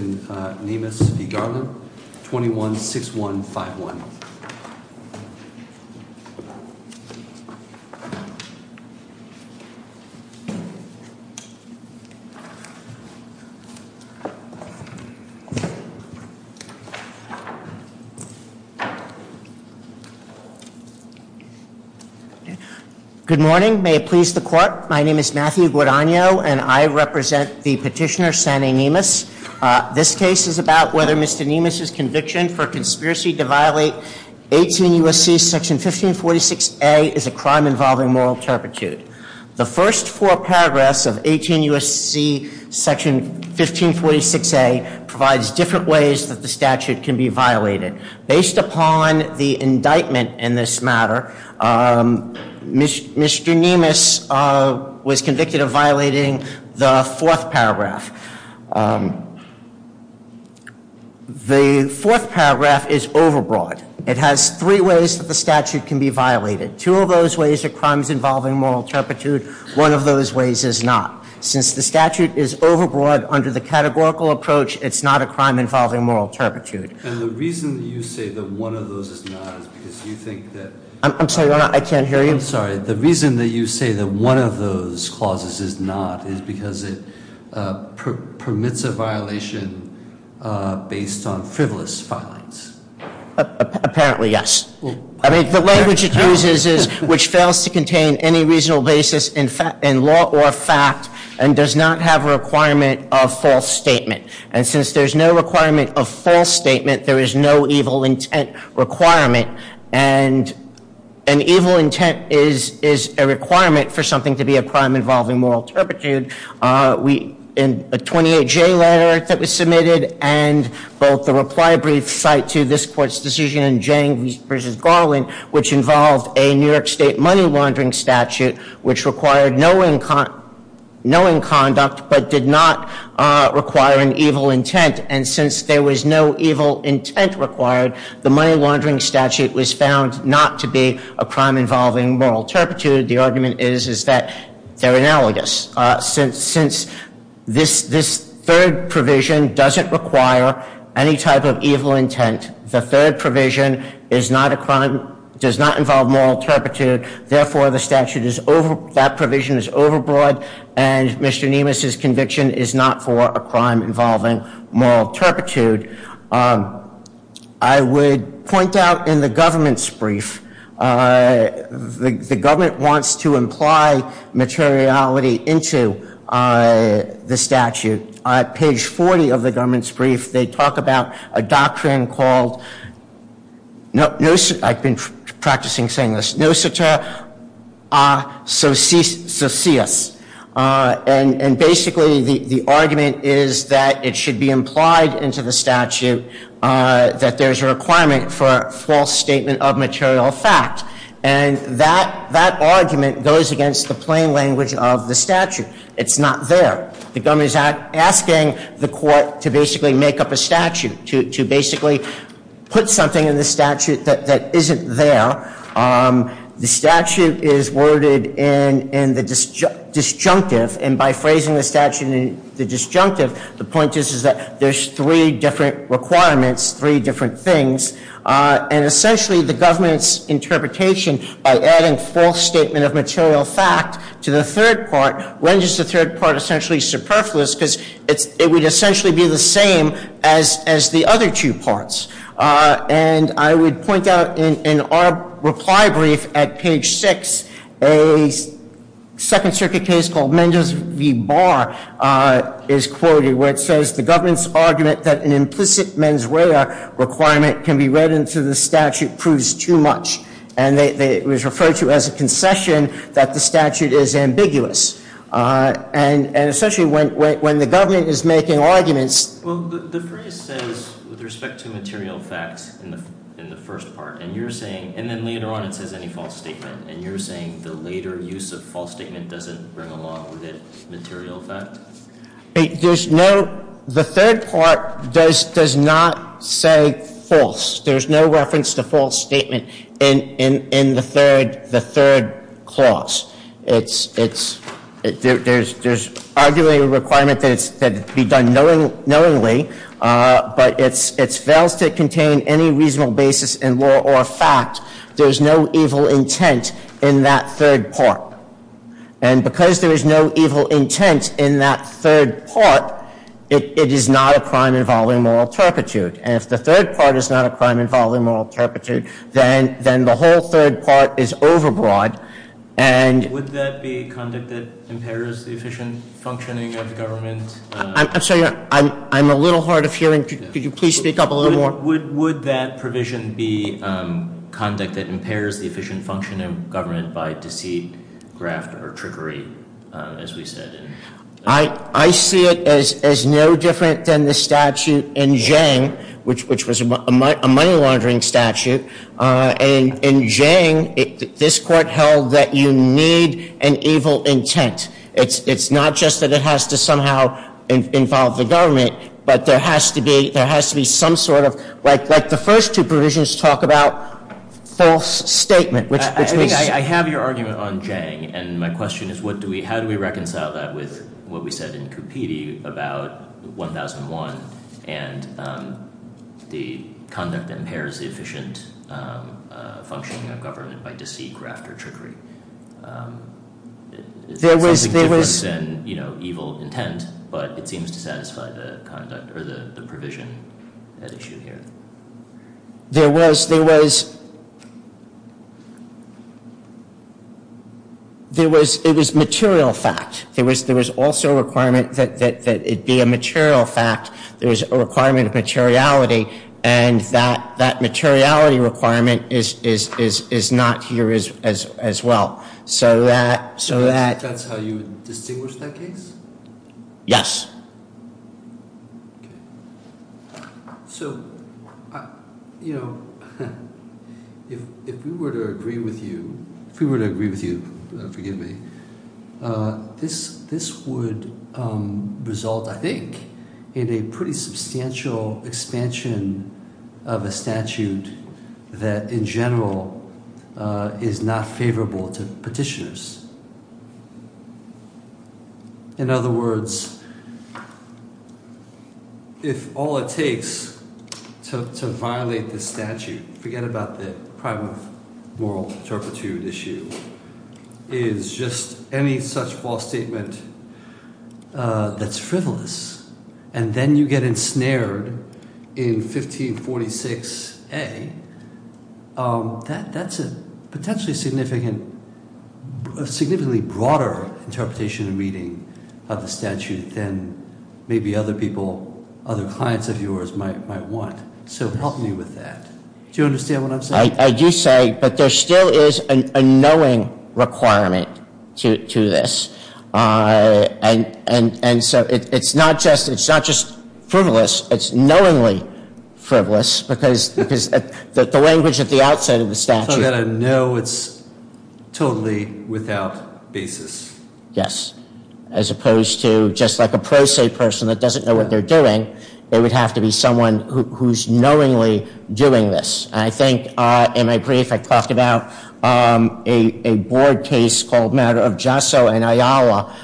21-6151. Good morning. My name is Matthew Guadagno, and I represent the petitioner, Sanne Nemis. This case is about whether Mr. Nemis' conviction for conspiracy to violate 18 U.S.C. Section 1546A is a crime involving moral turpitude. The first four paragraphs of 18 U.S.C. Section 1546A provides different ways that the statute can be violated. Based upon the indictment in this matter, Mr. Nemis was convicted of violating the fourth paragraph. The fourth paragraph is overbroad. It has three ways that the statute can be violated. Two of those ways are crimes involving moral turpitude. One of those ways is not. Since the statute is overbroad under the categorical approach, it's not a crime involving moral turpitude. And the reason that you say that one of those is not is because you think that- I'm sorry, I can't hear you. I'm sorry. The reason that you say that one of those clauses is not is because it permits a violation based on frivolous filings. Apparently, yes. I mean, the language it uses is, which fails to contain any reasonable basis in law or fact and does not have a requirement of false statement. And since there's no requirement of false statement, there is no evil intent requirement. And an evil intent is a requirement for something to be a crime involving moral turpitude. In a 28J letter that was submitted and both the reply brief cite to this Court's decision in Jang v. Garland, which involved a New York State money laundering statute, which required knowing conduct but did not require an evil intent. And since there was no evil intent required, the money laundering statute was found not to be a crime involving moral turpitude. The argument is that they're analogous. Since this third provision doesn't require any type of evil intent, the third provision is not a crime, does not involve moral turpitude. Therefore, the statute is over, that provision is overbroad. And Mr. Nemus' conviction is not for a crime involving moral turpitude. I would point out in the government's brief, the government wants to imply materiality into the statute. On page 40 of the government's brief, they talk about a doctrine called, I've been practicing saying this, and basically the argument is that it should be implied into the statute that there's a requirement for a false statement of material fact. And that argument goes against the plain language of the statute. It's not there. The government is asking the court to basically make up a statute, to basically put something in the statute that isn't there. The statute is worded in the disjunctive, and by phrasing the statute in the disjunctive, the point is that there's three different requirements, three different things. And essentially, the government's interpretation, by adding false statement of material fact to the third part, renders the third part essentially superfluous, because it would essentially be the same as the other two parts. And I would point out in our reply brief at page 6, a Second Circuit case called Mendes v. Barr is quoted, where it says the government's argument that an implicit mens rea requirement can be read into the statute proves too much. And it was referred to as a concession that the statute is ambiguous. And essentially, when the government is making arguments. Well, the phrase says, with respect to material facts in the first part, and you're saying, and then later on it says any false statement, and you're saying the later use of false statement doesn't bring along with it material fact? There's no, the third part does not say false. There's no reference to false statement in the third clause. There's arguably a requirement that it be done knowingly, but it fails to contain any reasonable basis in law or fact. There's no evil intent in that third part. And because there is no evil intent in that third part, it is not a crime involving moral turpitude. And if the third part is not a crime involving moral turpitude, then the whole third part is overbroad. And. Would that be conduct that impairs the efficient functioning of the government? I'm sorry, I'm a little hard of hearing. Could you please speak up a little more? Would that provision be conduct that impairs the efficient function of government by deceit, graft, or trickery, as we said? I see it as no different than the statute in Jiang, which was a money laundering statute. And in Jiang, this court held that you need an evil intent. It's not just that it has to somehow involve the government, but there has to be some sort of, like the first two provisions talk about false statement. I have your argument on Jiang, and my question is, how do we reconcile that with what we said in Cupidi about 1001, and the conduct impairs the efficient functioning of government by deceit, graft, or trickery? There was- It's something different than evil intent, but it seems to satisfy the conduct, or the provision at issue here. There was- It was material fact. There was also a requirement that it be a material fact. There was a requirement of materiality, and that materiality requirement is not here as well. So that- So that's how you distinguish that case? Yes. Okay. So, you know, if we were to agree with you- If we were to agree with you, forgive me, this would result, I think, in a pretty substantial expansion of a statute that, in general, is not favorable to petitioners. In other words, if all it takes to violate this statute, forget about the crime of moral turpitude issue, is just any such false statement that's frivolous, and then you get ensnared in 1546A, that's a potentially significant, significantly broader interpretation and reading of the statute than maybe other people, other clients of yours, might want. So help me with that. Do you understand what I'm saying? I do say, but there still is a knowing requirement to this. And so it's not just frivolous, it's knowingly frivolous, because the language at the outset of the statute- So you've got to know it's totally without basis. Yes. As opposed to just like a pro se person that doesn't know what they're doing, it would have to be someone who's knowingly doing this. And I think, in my brief, I talked about a board case called Matter of Jesso in Iowa.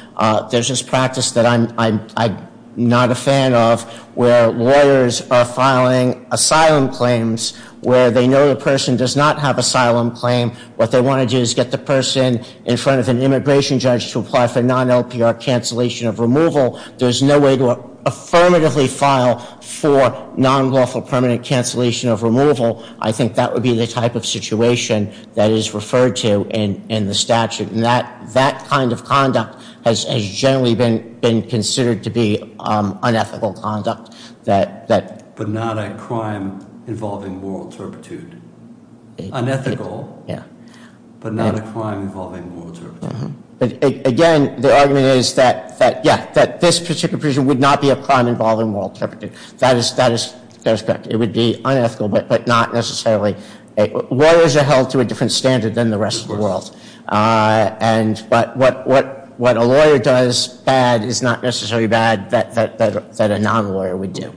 There's this practice that I'm not a fan of where lawyers are filing asylum claims where they know the person does not have asylum claim. What they want to do is get the person in front of an immigration judge to apply for non-LPR cancellation of removal. There's no way to affirmatively file for non-lawful permanent cancellation of removal. I think that would be the type of situation that is referred to in the statute. And that kind of conduct has generally been considered to be unethical conduct. But not a crime involving moral turpitude. Unethical, but not a crime involving moral turpitude. Again, the argument is that this particular person would not be a crime involving moral turpitude. That is correct. It would be unethical, but not necessarily. Lawyers are held to a different standard than the rest of the world. But what a lawyer does bad is not necessarily bad that a non-lawyer would do.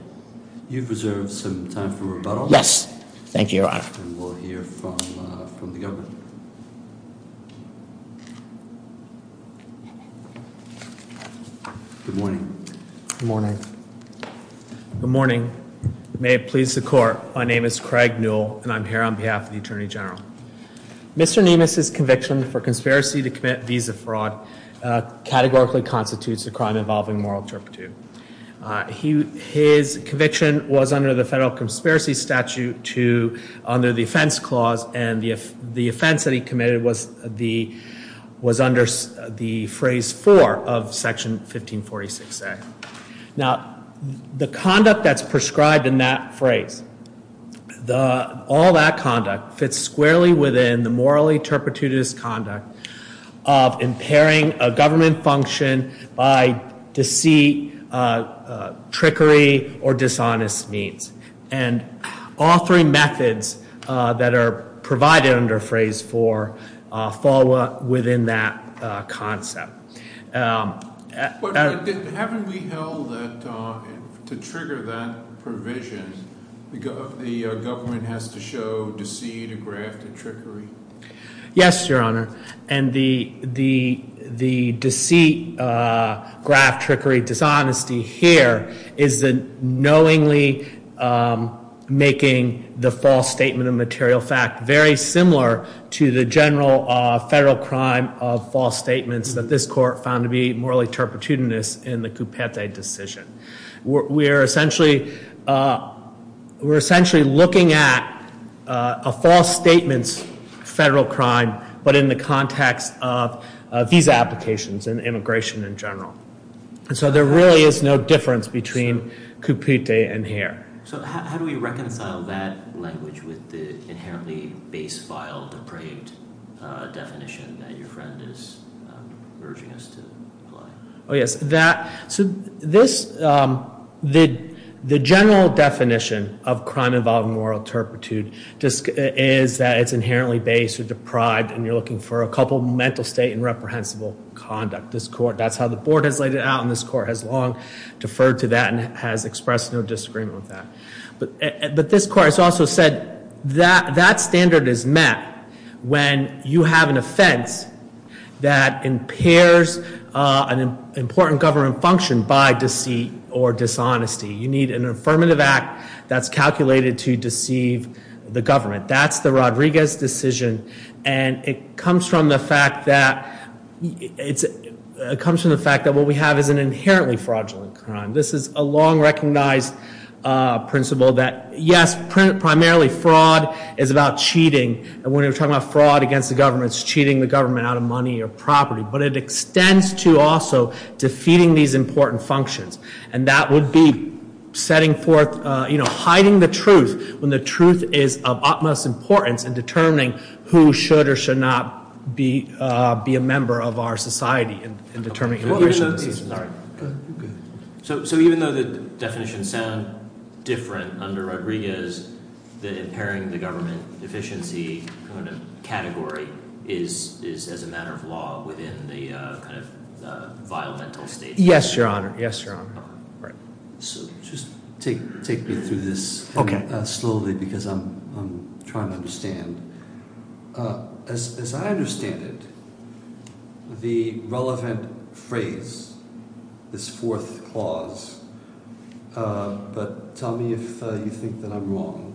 You've reserved some time for rebuttal. Yes. Thank you, Your Honor. And we'll hear from the government. Good morning. Good morning. Good morning. May it please the Court, my name is Craig Newell, and I'm here on behalf of the Attorney General. Mr. Niemus' conviction for conspiracy to commit visa fraud categorically constitutes a crime involving moral turpitude. His conviction was under the Federal Conspiracy Statute under the Offense Clause, and the offense that he committed was under the Phrase 4 of Section 1546A. Now, the conduct that's prescribed in that phrase, all that conduct, fits squarely within the morally turpitudeous conduct of impairing a government function by deceit, trickery, or dishonest means. And all three methods that are provided under Phrase 4 fall within that concept. But haven't we held that to trigger that provision, the government has to show deceit, graft, and trickery? Yes, Your Honor. And the deceit, graft, trickery, dishonesty here is the knowingly making the false statement of material fact very similar to the general federal crime of false statements that this Court found to be morally turpitudeous in the Coupete decision. We're essentially looking at a false statement's federal crime, but in the context of visa applications and immigration in general. So there really is no difference between Coupete and here. So how do we reconcile that language with the inherently base, vile, depraved definition that your friend is urging us to apply? Oh, yes. So the general definition of crime involving moral turpitude is that it's inherently base or deprived, and you're looking for a couple of mental state and reprehensible conduct. That's how the Board has laid it out, and this Court has long deferred to that and has expressed no disagreement with that. But this Court has also said that that standard is met when you have an offense that impairs an important government function by deceit or dishonesty. You need an affirmative act that's calculated to deceive the government. That's the Rodriguez decision, and it comes from the fact that what we have is an inherently fraudulent crime. This is a long-recognized principle that, yes, primarily fraud is about cheating, and when we're talking about fraud against the government, it's cheating the government out of money or property. But it extends to also defeating these important functions, and that would be setting forth, you know, hiding the truth when the truth is of utmost importance in determining who should or should not be a member of our society in determining immigration. So even though the definitions sound different under Rodriguez, the impairing the government efficiency kind of category is, as a matter of law, within the kind of vile mental state? Yes, Your Honor. Yes, Your Honor. Just take me through this slowly because I'm trying to understand. As I understand it, the relevant phrase, this fourth clause, but tell me if you think that I'm wrong,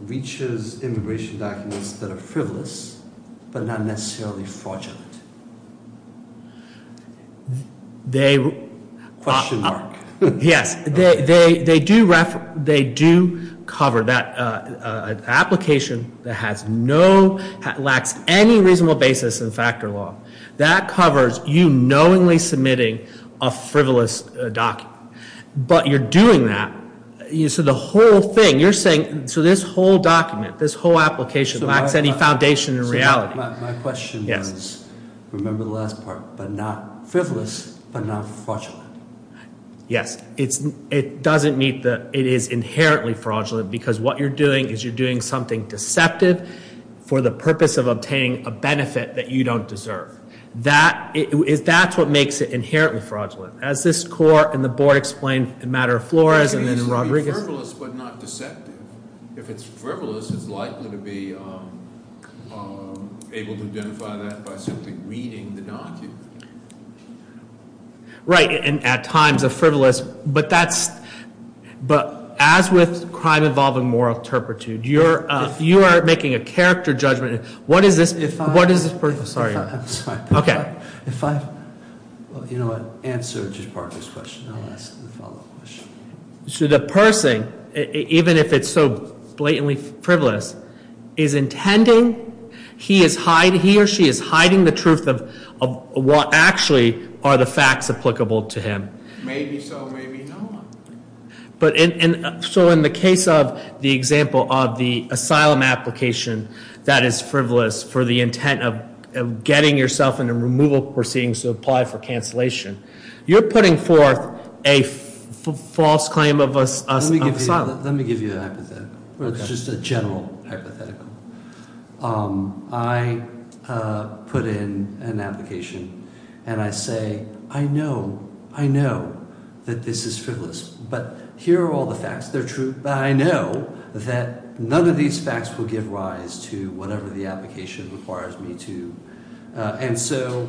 reaches immigration documents that are frivolous but not necessarily fraudulent. Question mark. Yes, they do cover that application that lacks any reasonable basis in factor law. That covers you knowingly submitting a frivolous document. But you're doing that. So the whole thing, you're saying, so this whole document, this whole application lacks any foundation in reality. My question was, remember the last part, but not frivolous but not fraudulent. Yes, it doesn't meet the, it is inherently fraudulent because what you're doing is you're doing something deceptive for the purpose of obtaining a benefit that you don't deserve. That's what makes it inherently fraudulent. As this court and the board explained in the matter of Flores and then in Rodriguez. It's frivolous but not deceptive. If it's frivolous, it's likely to be able to identify that by simply reading the document. Right, and at times a frivolous, but that's, but as with crime involving moral turpitude, you are making a character judgment. What is this, what is this, sorry, okay. If I, you know what, answer just part of this question. I'll ask the follow-up question. So the person, even if it's so blatantly frivolous, is intending, he or she is hiding the truth of what actually are the facts applicable to him. Maybe so, maybe not. But in, so in the case of the example of the asylum application that is frivolous for the intent of getting yourself in a removal proceeding to apply for cancellation. You're putting forth a false claim of asylum. Let me give you a hypothetical. It's just a general hypothetical. I put in an application and I say, I know, I know that this is frivolous, but here are all the facts. They're true, but I know that none of these facts will give rise to whatever the application requires me to. And so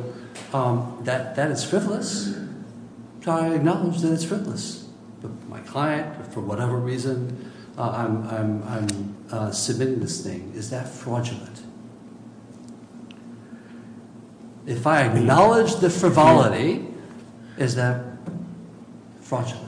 that is frivolous. I acknowledge that it's frivolous. My client, for whatever reason, I'm submitting this thing. Is that fraudulent? If I acknowledge the frivolity, is that fraudulent?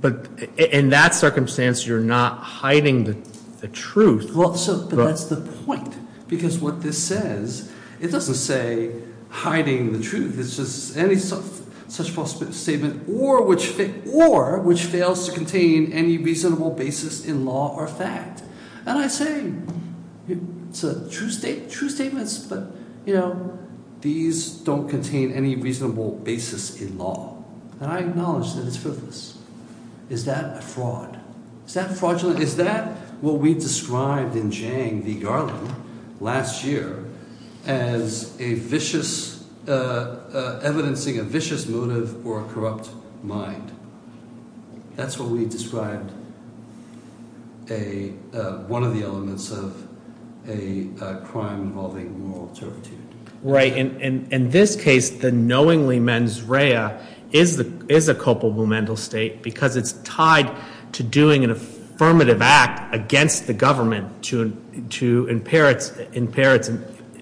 But in that circumstance, you're not hiding the truth. Well, so, but that's the point. Because what this says, it doesn't say hiding the truth. It's just any such false statement or which, or which fails to contain any reasonable basis in law or fact. And I say, it's a true state, true statements, but, you know, these don't contain any reasonable basis in law. And I acknowledge that it's frivolous. Is that a fraud? Is that fraudulent? So is that what we described in Zhang v. Garland last year as a vicious, evidencing a vicious motive or a corrupt mind? That's what we described a, one of the elements of a crime involving moral turpitude. Right. In this case, the knowingly mens rea is a copomomental state because it's tied to doing an affirmative act against the government to impair its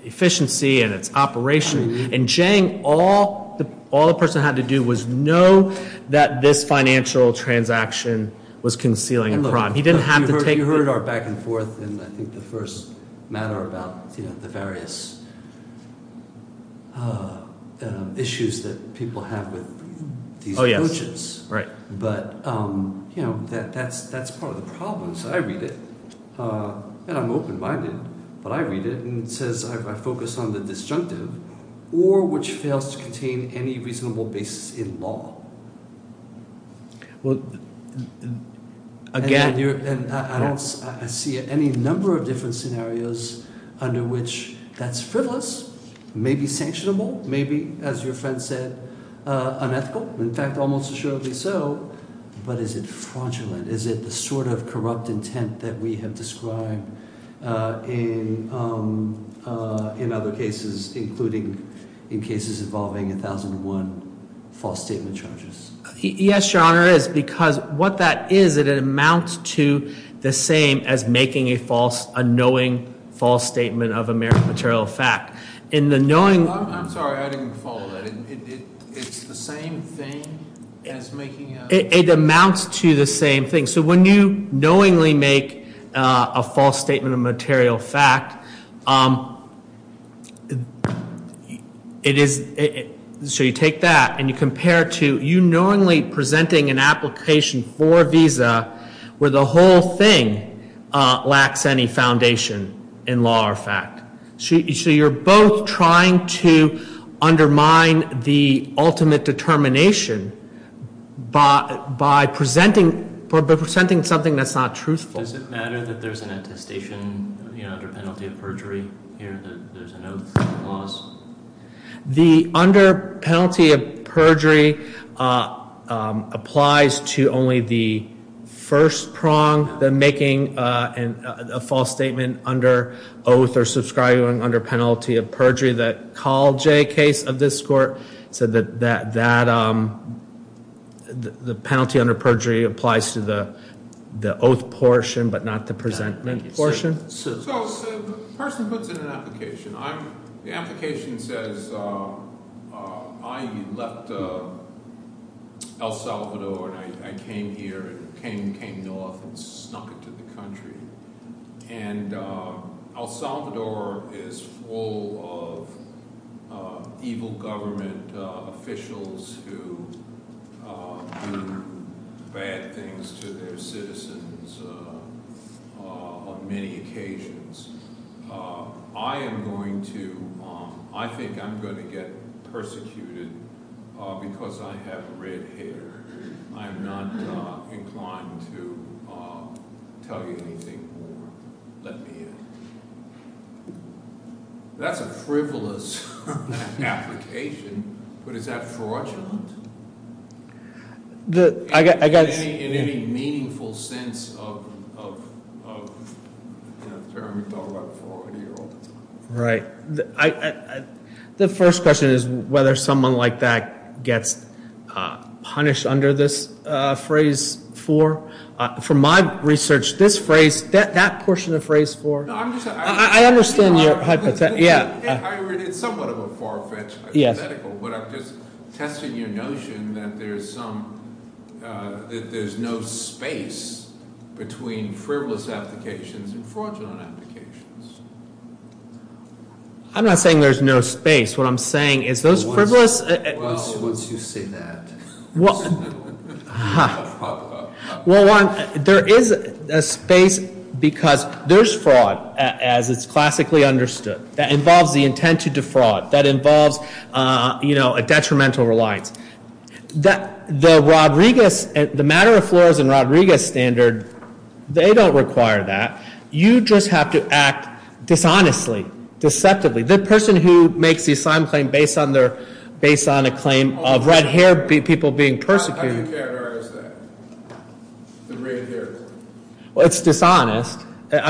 efficiency and its operation. And Zhang, all the person had to do was know that this financial transaction was concealing a crime. You heard our back and forth and I think the first matter about the various issues that people have with these coaches. Right. But, you know, that's part of the problem. So I read it and I'm open minded, but I read it and it says I focus on the disjunctive or which fails to contain any reasonable basis in law. Well, again, I don't see any number of different scenarios under which that's frivolous, maybe sanctionable, maybe, as your friend said, unethical. In fact, almost assuredly so. But is it fraudulent? Is it the sort of corrupt intent that we have described in other cases, including in cases involving 1001 false statement charges? Yes, Your Honor, it is because what that is, it amounts to the same as making a false, a knowing false statement of American material fact. In the knowing- I'm sorry, I didn't follow that. It's the same thing as making a- It amounts to the same thing. So when you knowingly make a false statement of material fact, it is- so you take that and you compare it to you knowingly presenting an application for a visa where the whole thing lacks any foundation in law or fact. So you're both trying to undermine the ultimate determination by presenting something that's not truthful. Does it matter that there's an attestation under penalty of perjury here that there's an oath clause? The under penalty of perjury applies to only the first prong, the making a false statement under oath or subscribing under penalty of perjury. The Coljay case of this court said that the penalty under perjury applies to the oath portion, but not the presenting portion. So the person puts in an application. The application says, I left El Salvador and I came here and came north and snuck into the country. And El Salvador is full of evil government officials who do bad things to their citizens on many occasions. I am going to- I think I'm going to get persecuted because I have red hair. I'm not inclined to tell you anything more. Let me in. That's a frivolous application, but is that fraudulent? In any meaningful sense of the term you're talking about for an 80-year-old. Right. The first question is whether someone like that gets punished under this phrase for. From my research, this phrase, that portion of phrase for. I understand your hypothesis. It's somewhat of a far-fetched hypothetical, but I'm just testing your notion that there's no space between frivolous applications and fraudulent applications. I'm not saying there's no space. What I'm saying is those frivolous- Well, once you say that. Well, one, there is a space because there's fraud, as it's classically understood. That involves the intent to defraud. That involves, you know, a detrimental reliance. The Rodriguez- the Matter of Flores and Rodriguez standard, they don't require that. You just have to act dishonestly, deceptively. The person who makes the assigned claim based on a claim of red-haired people being persecuted- How do you characterize that, the red-haired? Well, it's dishonest. What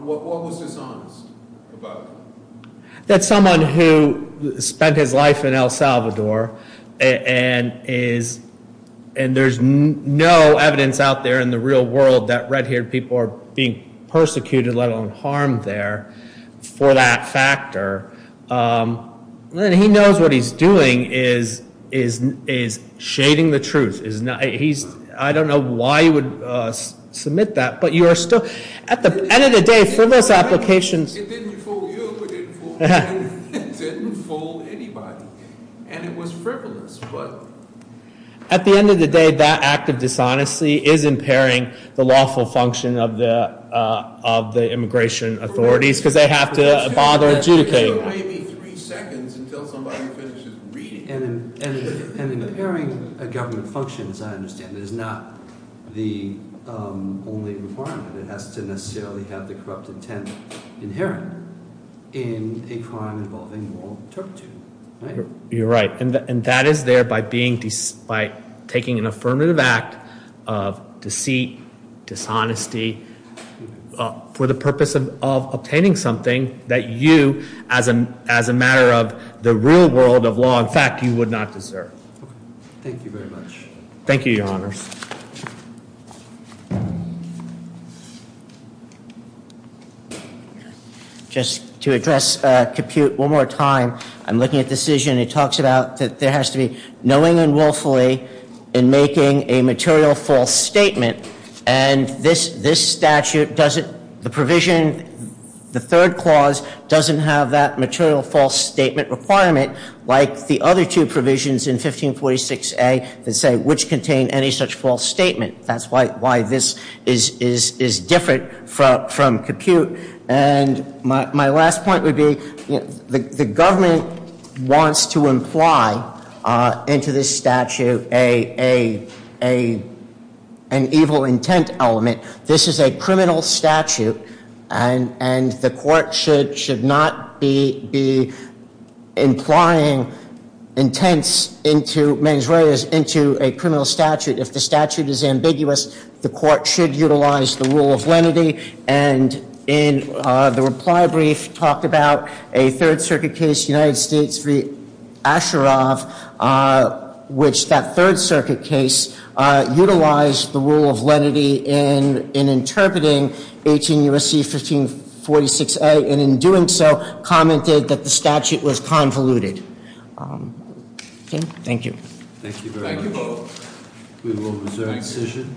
was dishonest about it? That someone who spent his life in El Salvador and is- And there's no evidence out there in the real world that red-haired people are being persecuted, let alone harmed there, for that factor. And he knows what he's doing is shading the truth. He's- I don't know why you would submit that, but you are still- At the end of the day, frivolous applications- It didn't fool anybody. And it was frivolous, but- At the end of the day, that act of dishonesty is impairing the lawful function of the immigration authorities because they have to bother adjudicating. It took maybe three seconds until somebody finishes reading. And impairing a government function, as I understand it, is not the only requirement. It has to necessarily have the corrupt intent inherent in a crime involving moral turpitude, right? You're right. And that is there by being- by taking an affirmative act of deceit, dishonesty, for the purpose of obtaining something that you, as a matter of the real world of law, in fact, you would not deserve. Thank you very much. Thank you, Your Honors. Just to address compute one more time, I'm looking at decision. It talks about that there has to be knowing unwillfully in making a material false statement. And this statute doesn't- the provision- the third clause doesn't have that material false statement requirement like the other two provisions in 1546A that say which contain any such false statement. That's why this is different from compute. And my last point would be the government wants to imply into this statute an evil intent element. This is a criminal statute. And the court should not be implying intents into mens reas into a criminal statute. If the statute is ambiguous, the court should utilize the rule of lenity. And in the reply brief talked about a Third Circuit case, United States v. Asheroff, which that Third Circuit case utilized the rule of lenity in interpreting 18 U.S.C. 1546A. And in doing so, commented that the statute was convoluted. Okay. Thank you. Thank you very much. Thank you both. We will reserve the decision.